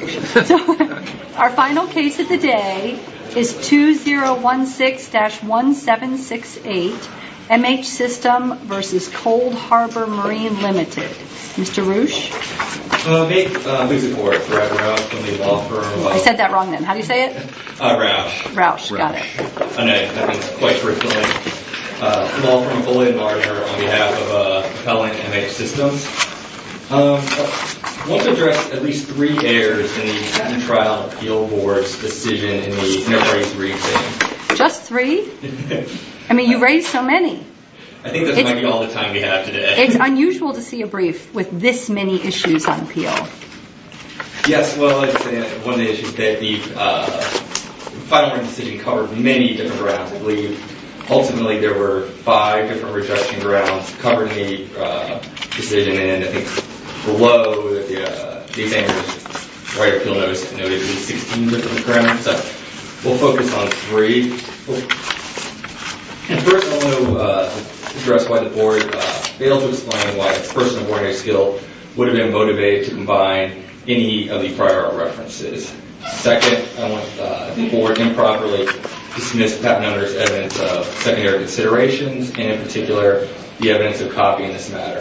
Our final case of the day is 2016-1768, MH System v. Coldharbour Marine Limited. Mr. Roush? Nate, who's it for? Brad Roush from the law firm... I said that wrong then, how do you say it? Roush. Roush, got it. I know, that means, quite truthfully, law firm bully and martyr on behalf of compelling MH Systems. I want to address at least three errors in the trial appeal board's decision in the raise three thing. Just three? I mean, you raised so many. I think that's how many all the time we have today. It's unusual to see a brief with this many issues on appeal. Yes, well, it's one of the issues that the final decision covered many different grounds. Ultimately, there were five different rejection grounds covering the decision, and I think below these errors, the right appeal notice noted at least 16 different grounds. So, we'll focus on three. And first, I want to address why the board failed to explain why a person of ordinary skill would have been motivated to combine any of the prior references. Second, I want the board improperly dismiss Pat Nutter's evidence of secondary considerations, and in particular, the evidence of copying this matter.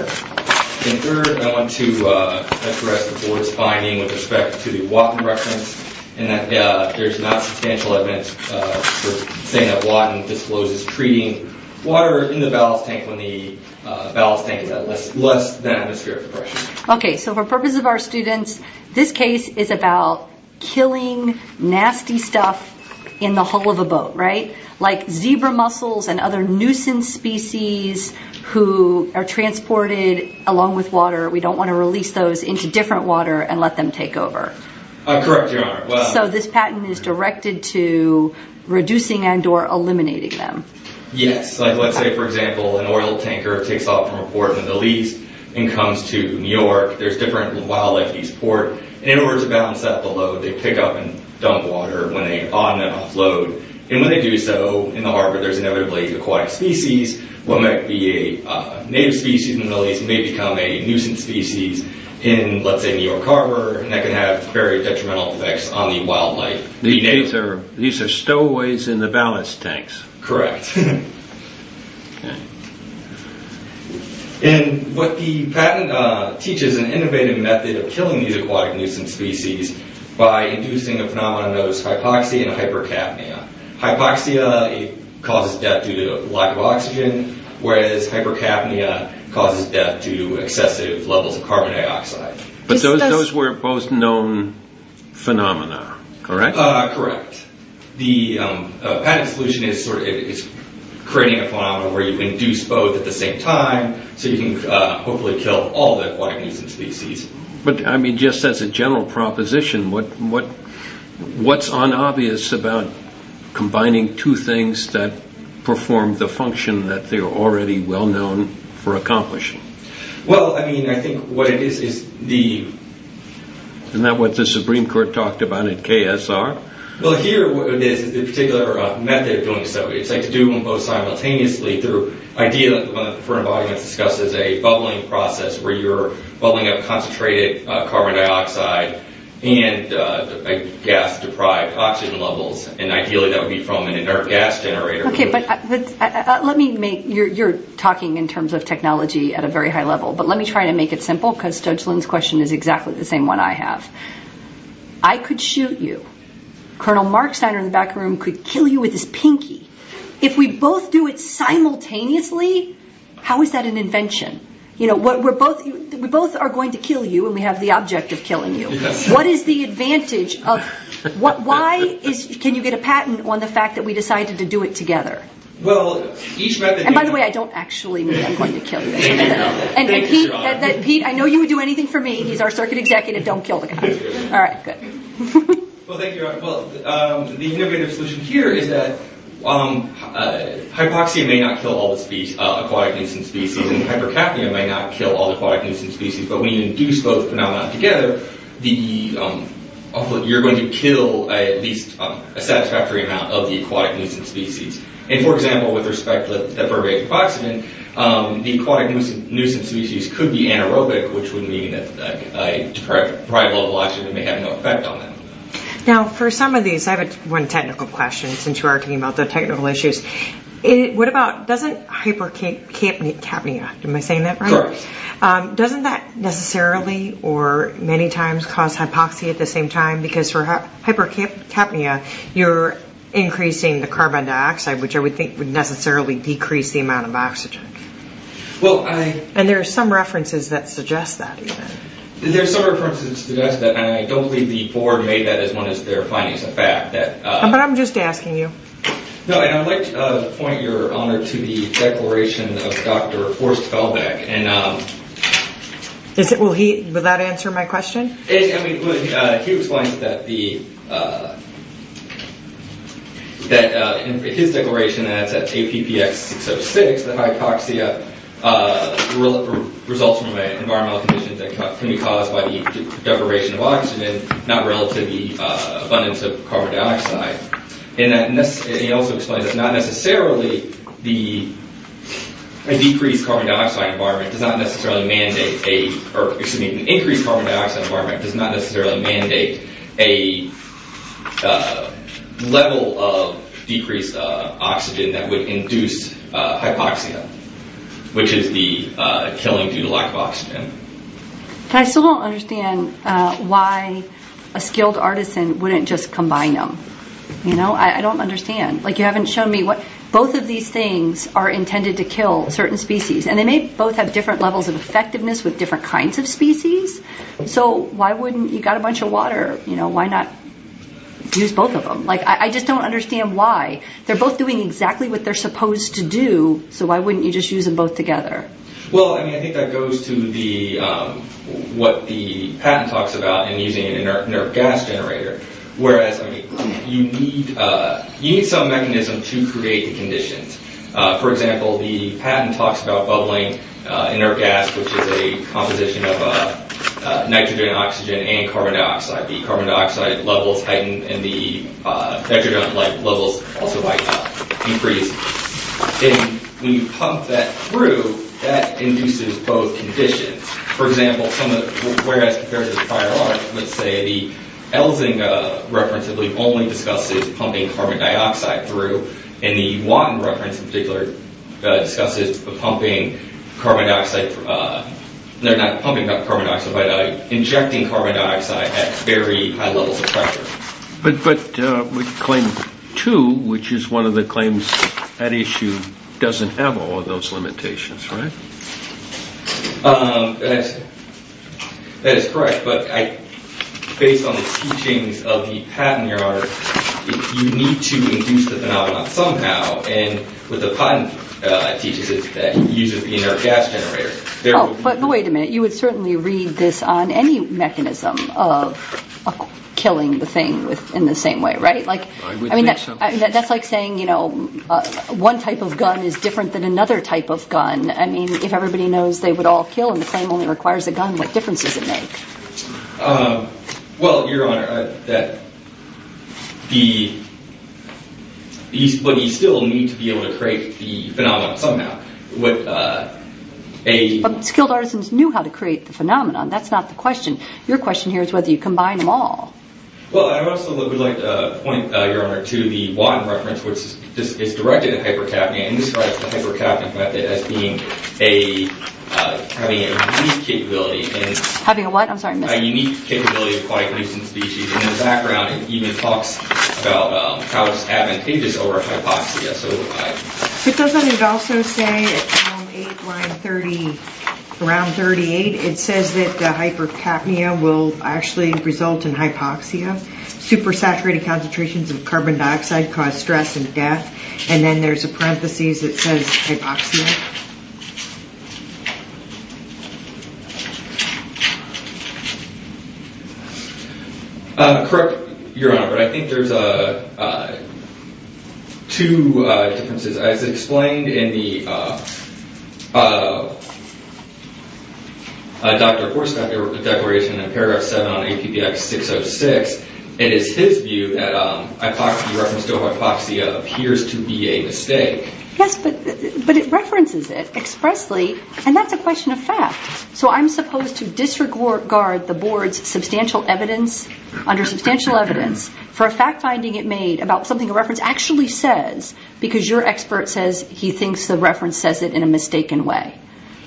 And third, I want to address the board's finding with respect to the Watton reference, and that there's not substantial evidence for saying that Watton discloses treating water in the ballast tank when the ballast tank is at less than atmospheric pressure. Okay, so for purposes of our students, this case is about killing nasty stuff in the hull of a boat, right? Like zebra mussels and other nuisance species who are transported along with water. We don't want to release those into different water and let them take over. Correct, Your Honor. So, this patent is directed to reducing and or eliminating them. Yes, like let's say, for example, an oil tanker takes off from a port in the Middle East and comes to New York. There's different wildlife in these ports, and in order to balance out the load, they pick up and dump water when they're on and off load. And when they do so, in the harbor, there's inevitably aquatic species. What might be a native species in the Middle East may become a nuisance species in, let's say, New York Harbor, and that can have very detrimental effects on the wildlife. These are stowaways in the ballast tanks. Correct. And what the patent teaches is an innovative method of killing these aquatic nuisance species by inducing a phenomenon known as hypoxia and hypercapnia. Hypoxia causes death due to lack of oxygen, whereas hypercapnia causes death due to excessive levels of carbon dioxide. But those were both known phenomena, correct? Correct. The patent solution is creating a phenomenon where you induce both at the same time, so you can hopefully kill all the aquatic nuisance species. But, I mean, just as a general proposition, what's unobvious about combining two things that perform the function that they're already well known for accomplishing? Well, I mean, I think what it is, is the... Isn't that what the Supreme Court talked about in KSR? Well, here, what it is is a particular method of doing so. It's like to do them both simultaneously through an idea that the front of the audience discussed as a bubbling process where you're bubbling up concentrated carbon dioxide and gas-deprived oxygen levels, and ideally that would be from an inert gas generator. You're talking in terms of technology at a very high level, but let me try to make it simple, because Judge Lynn's question is exactly the same one I have. I could shoot you. Colonel Marksteiner in the back room could kill you with his pinky. If we both do it simultaneously, how is that an invention? We both are going to kill you, and we have the object of killing you. What is the advantage of... Why can you get a patent on the fact that we decided to do it together? By the way, I don't actually mean I'm going to kill you. Pete, I know you would do anything for me. He's our circuit executive. Don't kill the guy. All right, good. Well, thank you. The innovative solution here is that hypoxia may not kill all the aquatic nuisance species, and hypercapnia may not kill all the aquatic nuisance species, but when you induce both phenomena together, you're going to kill at least a satisfactory amount of the aquatic nuisance species. For example, with respect to the vertebrate hypoxia, the aquatic nuisance species could be anaerobic, which would mean that a deprived blood clot may have no effect on them. Now, for some of these, I have one technical question, since you are talking about the technical issues. Doesn't hypercapnia... Am I saying that right? Sure. Doesn't that necessarily or many times cause hypoxia at the same time? Because for hypercapnia, you're increasing the carbon dioxide, which I would think would necessarily decrease the amount of oxygen. Well, I... And there are some references that suggest that, even. There are some references that suggest that, and I don't believe the board made that as one of their findings of fact. But I'm just asking you. No, and I would like to point your honor to the declaration of Dr. Horst Felbeck. And... Is it... Will he... Will that answer my question? It... I mean, he explains that the... His declaration adds that APPX606, the hypoxia, results from environmental conditions that can be caused by the deprivation of oxygen, not relative to the abundance of carbon dioxide. And he also explains that it's not necessarily the... A decreased carbon dioxide environment does not necessarily mandate a... Excuse me. An increased carbon dioxide environment does not necessarily mandate a level of decreased oxygen that would induce hypoxia, which is the killing due to lack of oxygen. I still don't understand why a skilled artisan wouldn't just combine them. You know? I don't understand. Like, you haven't shown me what... Both of these things are intended to kill certain species. And they may both have different levels of effectiveness with different kinds of species. So why wouldn't... You've got a bunch of water. You know, why not use both of them? Like, I just don't understand why. They're both doing exactly what they're supposed to do, so why wouldn't you just use them both together? Well, I mean, I think that goes to what the patent talks about in using an inert gas generator. Whereas, I mean, you need some mechanism to create the conditions. For example, the patent talks about bubbling inert gas, which is a composition of nitrogen, oxygen, and carbon dioxide. The carbon dioxide levels heighten, and the nitrogen levels also might increase. And when you pump that through, that induces both conditions. For example, whereas compared to the prior art, let's say the Elzinga reference only discusses pumping carbon dioxide through, and the Watton reference in particular discusses pumping carbon dioxide... No, not pumping carbon dioxide, but injecting carbon dioxide at very high levels of pressure. But claim two, which is one of the claims at issue, doesn't have all of those limitations, right? That is correct, but based on the teachings of the patent art, you need to induce the phenomenon somehow, and what the patent teaches is that you use an inert gas generator. Oh, but wait a minute. You would certainly read this on any mechanism of killing the thing in the same way, right? I would think so. That's like saying one type of gun is different than another type of gun. I mean, if everybody knows they would all kill, and the claim only requires a gun, what difference does it make? Well, Your Honor, but you still need to be able to create the phenomenon somehow. But skilled artisans knew how to create the phenomenon. That's not the question. Your question here is whether you combine them all. Well, I also would like to point, Your Honor, to the Watton reference, which is directed at hypercapnia and describes the hypercapnia method as having a unique capability. Having a what? I'm sorry, I missed that. A unique capability of quite recent species, and in the background it even talks about how it's advantageous over hypoxia. It doesn't it also say at column 8, line 30, around 38, it says that the hypercapnia will actually result in hypoxia. Supersaturated concentrations of carbon dioxide cause stress and death. And then there's a parenthesis that says hypoxia. Correct, Your Honor, but I think there's two differences. As explained in the Dr. Horst's declaration in paragraph 7 on APBX 606, it is his view that the reference to hypoxia appears to be a mistake. Yes, but it references it. Expressly, and that's a question of fact. So I'm supposed to disregard the Board's substantial evidence, under substantial evidence, for a fact-finding it made about something a reference actually says, because your expert says he thinks the reference says it in a mistaken way.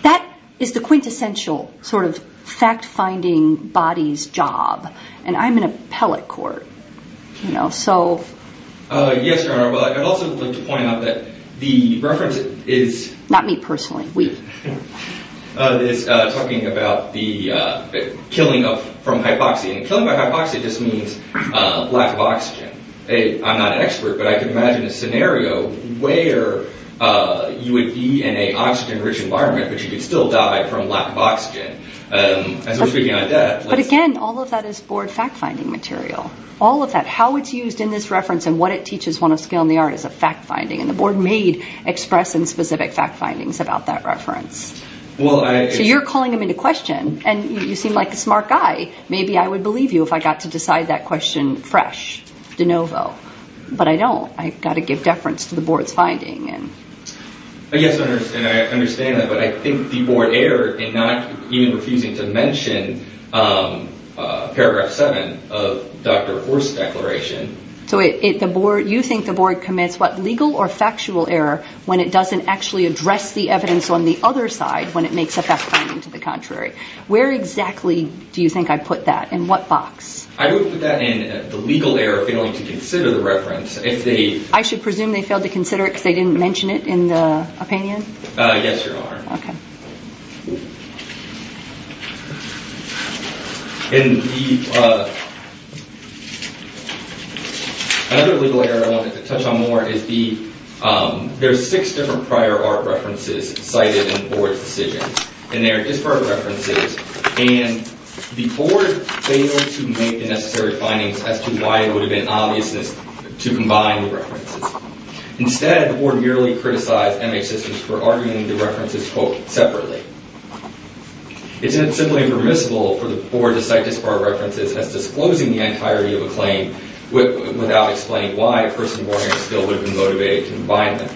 That is the quintessential sort of fact-finding body's job, and I'm in appellate court. Yes, Your Honor, but I'd also like to point out that the reference is not me personally, we. It's talking about the killing from hypoxia. And killing by hypoxia just means lack of oxygen. I'm not an expert, but I can imagine a scenario where you would be in an oxygen-rich environment, but you could still die from lack of oxygen. But again, all of that is Board fact-finding material. All of that. How it's used in this reference and what it teaches on a scale in the art is a fact-finding. And the Board made express and specific fact-findings about that reference. So you're calling them into question, and you seem like a smart guy. Maybe I would believe you if I got to decide that question fresh, de novo. But I don't. I've got to give deference to the Board's finding. Yes, and I understand that, but I think the Board erred in not even refusing to mention paragraph 7 of Dr. Orr's declaration. So you think the Board commits what, legal or factual error, when it doesn't actually address the evidence on the other side when it makes a fact-finding to the contrary? Where exactly do you think I put that? In what box? I don't put that in the legal error, failing to consider the reference. I should presume they failed to consider it because they didn't mention it in the opinion? Yes, Your Honor. Okay. Another legal error I wanted to touch on more is there are six different prior art references cited in the Board's decision. And they are disparate references. And the Board failed to make the necessary findings as to why it would have been obvious to combine the references. Instead, the Board merely criticized MH Systems for arguing the references, quote, separately. Isn't it simply permissible for the Board to cite disparate references as disclosing the entirety of a claim without explaining why a person born here still would have been motivated to combine them?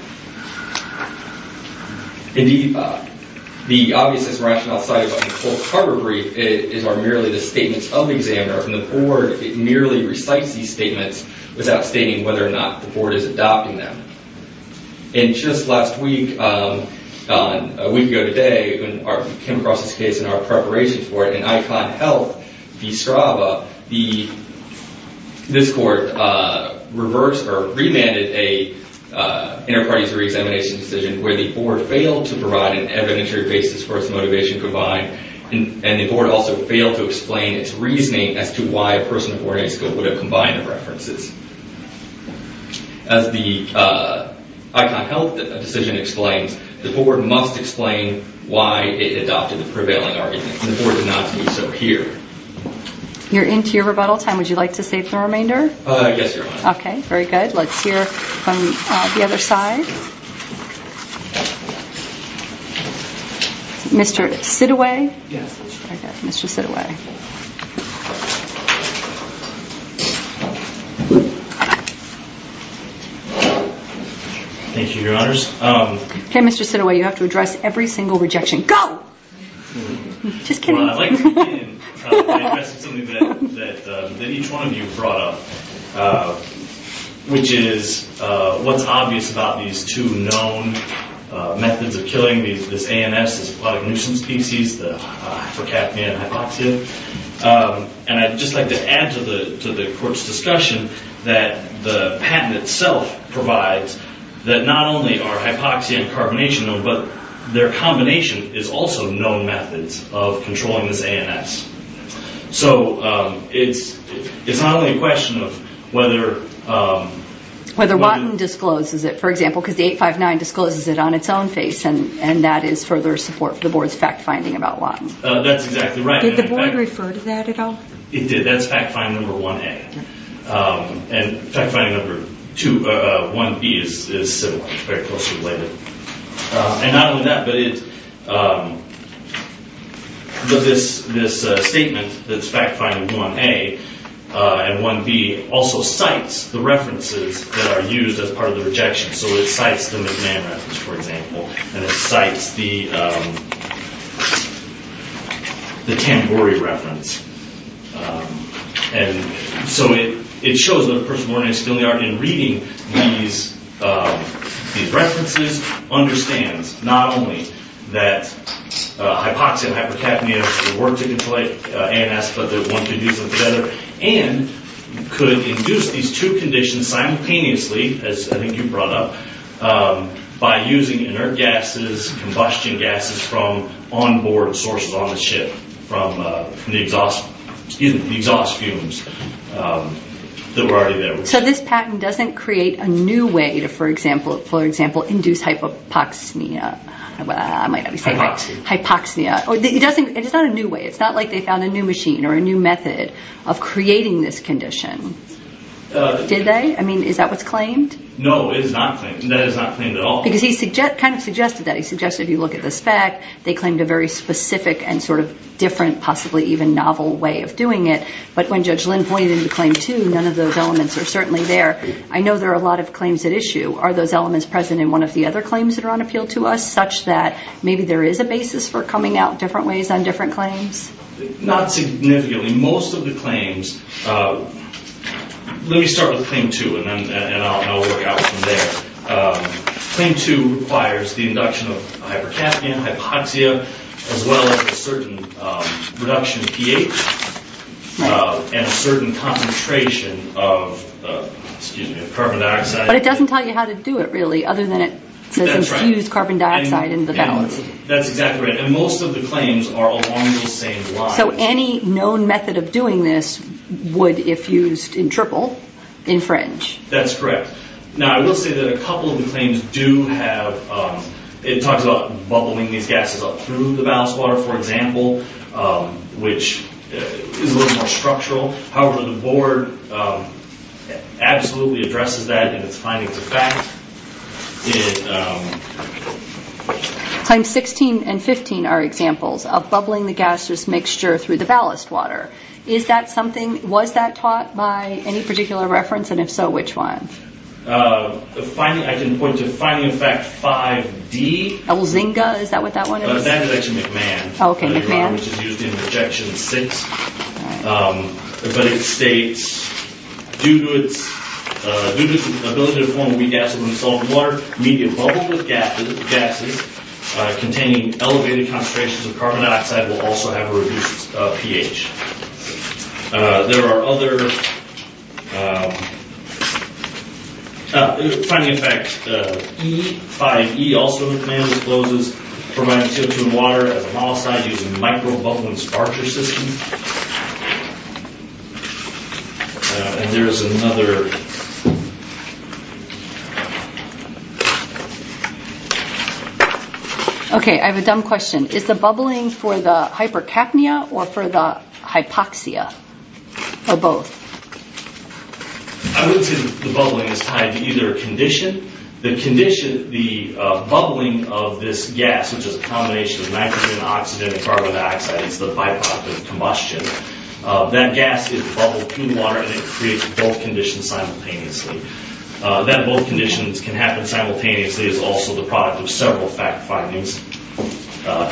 Indeed, the obviousness and rationale cited in the quote cover brief are merely the statements of the examiner. From the Board, it merely recites these statements without stating whether or not the Board is adopting them. And just last week, a week ago today, when we came across this case in our preparation for it, in Icon Health v. Strava, this Court remanded an inter-parties re-examination decision where the Board failed to provide an evidentiary basis for its motivation to combine. And the Board also failed to explain its reasoning as to why a person born in Isco would have combined the references. As the Icon Health decision explains, the Board must explain why it adopted the prevailing argument. And the Board did not do so here. You're into your rebuttal time. Would you like to save the remainder? Yes, Your Honor. Okay, very good. Let's hear from the other side. Mr. Sidaway? Yes. Okay, Mr. Sidaway. Thank you, Your Honors. Okay, Mr. Sidaway, you have to address every single rejection. Go! Just kidding. Well, I'd like to begin by addressing something that each one of you brought up, which is what's obvious about these two known methods of killing, this ANS, this aquatic nuisance species, the hypocapnia and hypoxia. And I'd just like to add to the Court's discussion that the patent itself provides that not only are hypoxia and carbonation known, but their combination is also known methods of controlling this ANS. So it's not only a question of whether... Whether Watton discloses it, for example, because the 859 discloses it on its own face, and that is further support for the Board's fact-finding about Watton. That's exactly right. Did the Board refer to that at all? It did. That's fact-finding number 1A. And fact-finding number 1B is similar, very closely related. And not only that, but this statement that's fact-finding 1A and 1B also cites the references that are used as part of the rejection. So it cites the McMahon reference, for example, and it cites the Tambori reference. And so it shows that a person born in Expelliarmus, in reading these references, understands not only that hypoxia and hypercapnia work to control ANS, but that one could use them together and could induce these two conditions simultaneously, as I think you brought up, by using inert gases, combustion gases from onboard sources on the ship, from the exhaust fumes that were already there. So this patent doesn't create a new way to, for example, induce hypoxia. It's not a new way. It's not like they found a new machine or a new method of creating this condition. Did they? I mean, is that what's claimed? No, it is not claimed. That is not claimed at all. Because he kind of suggested that. I suggest if you look at the spec, they claimed a very specific and sort of different, possibly even novel way of doing it. But when Judge Lynn pointed to Claim 2, none of those elements are certainly there. I know there are a lot of claims at issue. Are those elements present in one of the other claims that are on appeal to us, such that maybe there is a basis for coming out different ways on different claims? Not significantly. Most of the claims, let me start with Claim 2, and I'll work out from there. Claim 2 requires the induction of a hypercaffeine, hypoxia, as well as a certain reduction in pH and a certain concentration of carbon dioxide. But it doesn't tell you how to do it, really, other than it says infuse carbon dioxide into the balance. That's exactly right. And most of the claims are along those same lines. So any known method of doing this would, if used in triple, infringe? That's correct. Now, I will say that a couple of the claims do have, it talks about bubbling these gases up through the ballast water, for example, which is a little more structural. However, the Board absolutely addresses that in its findings of fact. Claims 16 and 15 are examples of bubbling the gaseous mixture through the ballast water. Was that taught by any particular reference, and if so, which one? I can point to finding of fact 5D. Elzinga, is that what that one is? That's actually McMahon, which is used in Rejection 6. But it states, due to its ability to form wheat gases in the salt water, medium bubbles with gases containing elevated concentrations of carbon dioxide will also have a reduced pH. There are other... Finding of fact 5E, also McMahon discloses, permanent tints in water as a mollicide using micro-bubbling sparcher systems. And there is another... Okay, I have a dumb question. Is the bubbling for the hypercapnia or for the hypoxia, or both? I would say the bubbling is tied to either condition. The condition, the bubbling of this gas, which is a combination of nitrogen, oxygen, and carbon dioxide, is the by-product of combustion. That gas is bubbled through water, and it creates both conditions simultaneously. That both conditions can happen simultaneously is also the product of several fact findings,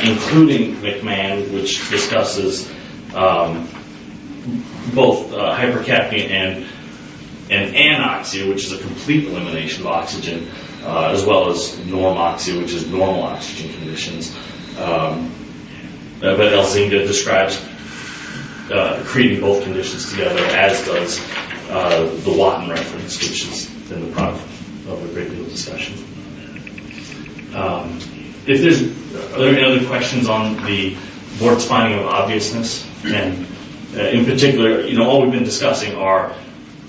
including McMahon, which discusses both hypercapnia and anoxia, which is a complete elimination of oxygen, as well as normoxia, which is normal oxygen conditions. But Elzinga describes creating both conditions together, as does the Watton reference, which is in the product of a great deal of discussion. Are there any other questions on the board's finding of obviousness? In particular, all we've been discussing are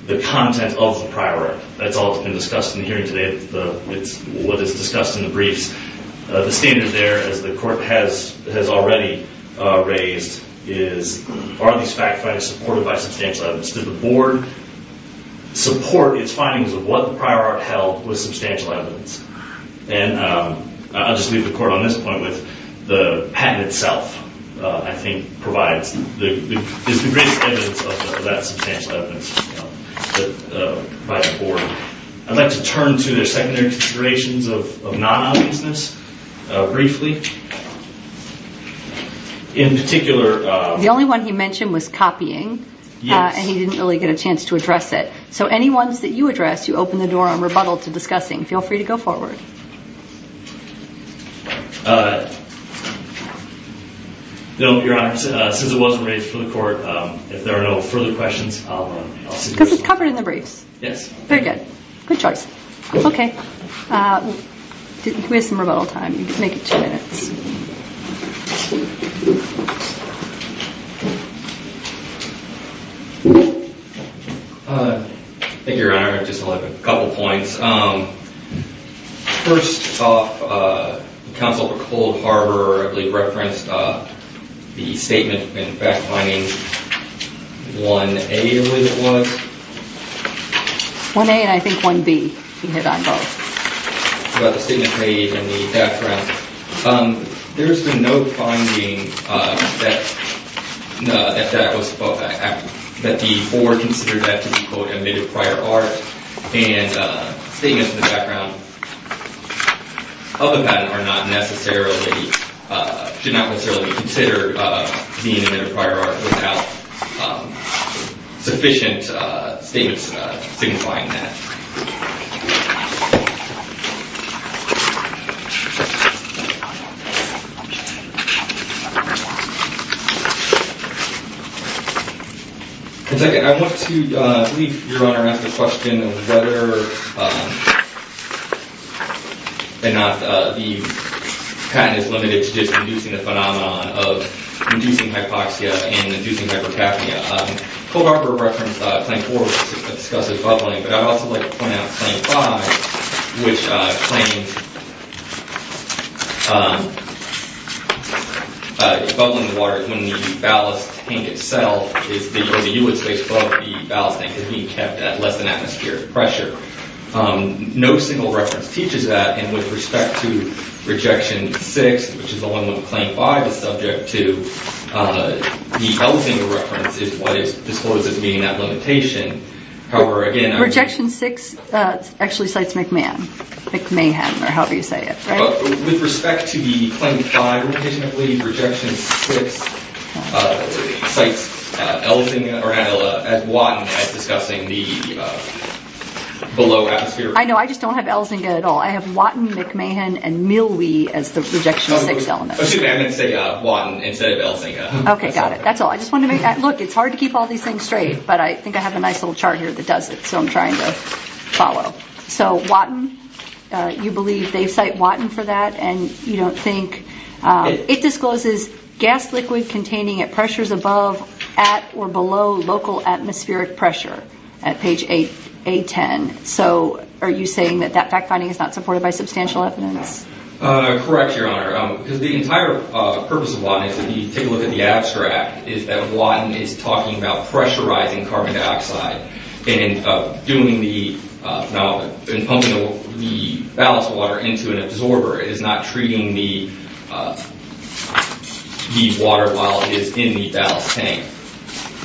the content of the prior work. That's all that's been discussed in the hearing today. It's what is discussed in the briefs. The standard there, as the court has already raised, is are these fact findings supported by substantial evidence? Did the board support its findings of what the prior art held with substantial evidence? I'll just leave the court on this point with the patent itself, I think, is the greatest evidence of that substantial evidence by the board. I'd like to turn to their secondary considerations of non-obviousness briefly. In particular... The only one he mentioned was copying. Yes. And he didn't really get a chance to address it. So any ones that you addressed, you opened the door and rebuttaled to discussing. Feel free to go forward. No, Your Honor, since it wasn't raised for the court, if there are no further questions, I'll... Because it's covered in the briefs. Yes. Very good. Good choice. Okay. We have some rebuttal time. Make it two minutes. Thank you, Your Honor. Just a couple of points. First off, Counsel for Cold Harbor, I believe, referenced the statement in fact finding 1A, I believe it was. 1A and I think 1B. You hit on both. About the statement made in the background. There's been no finding that the board considered that to be, quote, admitted prior art. And statements in the background of the patent are not necessarily, should not necessarily be considered being admitted prior art without sufficient statements signifying that. And second, I want to leave, Your Honor, to ask a question of whether or not the patent is limited to just the phenomenon of inducing hypoxia and inducing hypercapnia. Cold Harbor referenced Claim 4, which discusses bubbling, but I'd also like to point out Claim 5, which claims bubbling water when the ballast tank itself is, when the u-width space above the ballast tank is being kept at less than atmospheric pressure. No single reference teaches that, and with respect to Rejection 6, which is the one where Claim 5 is subject to, the Elzinga reference is what is disclosed as being that limitation. Rejection 6 actually cites McMahon. McMahon, or however you say it. With respect to the Claim 5, I believe Rejection 6 cites Elzinga or Watton as discussing the below atmospheric pressure. I know. I just don't have Elzinga at all. I have Watton, McMahon, and Millwee as the Rejection 6 elements. Excuse me, I meant to say Watton instead of Elzinga. Okay, got it. That's all. Look, it's hard to keep all these things straight, but I think I have a nice little chart here that does it, so I'm trying to follow. So Watton, you believe they cite Watton for that, and you don't think. It discloses gas liquid containing at pressures above, at, or below local atmospheric pressure at page A10. So are you saying that that fact-finding is not supported by substantial evidence? Correct, Your Honor. Because the entire purpose of Watton, if you take a look at the abstract, is that Watton is talking about pressurizing carbon dioxide and pumping the ballast water into an absorber. It is not treating the water while it is in the ballast tank.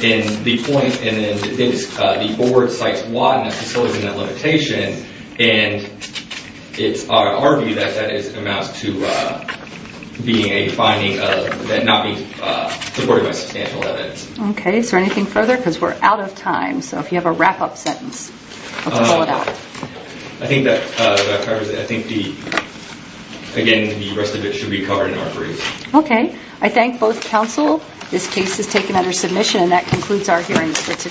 And the point is the board cites Watton as facilitating that limitation, and it's our view that that amounts to being a finding of that not being supported by substantial evidence. Okay, is there anything further? Because we're out of time, so if you have a wrap-up sentence, let's roll it out. I think that covers it. I think, again, the rest of it should be covered in our brief. Okay. I thank both counsel. This case is taken under submission, and that concludes our hearings for today.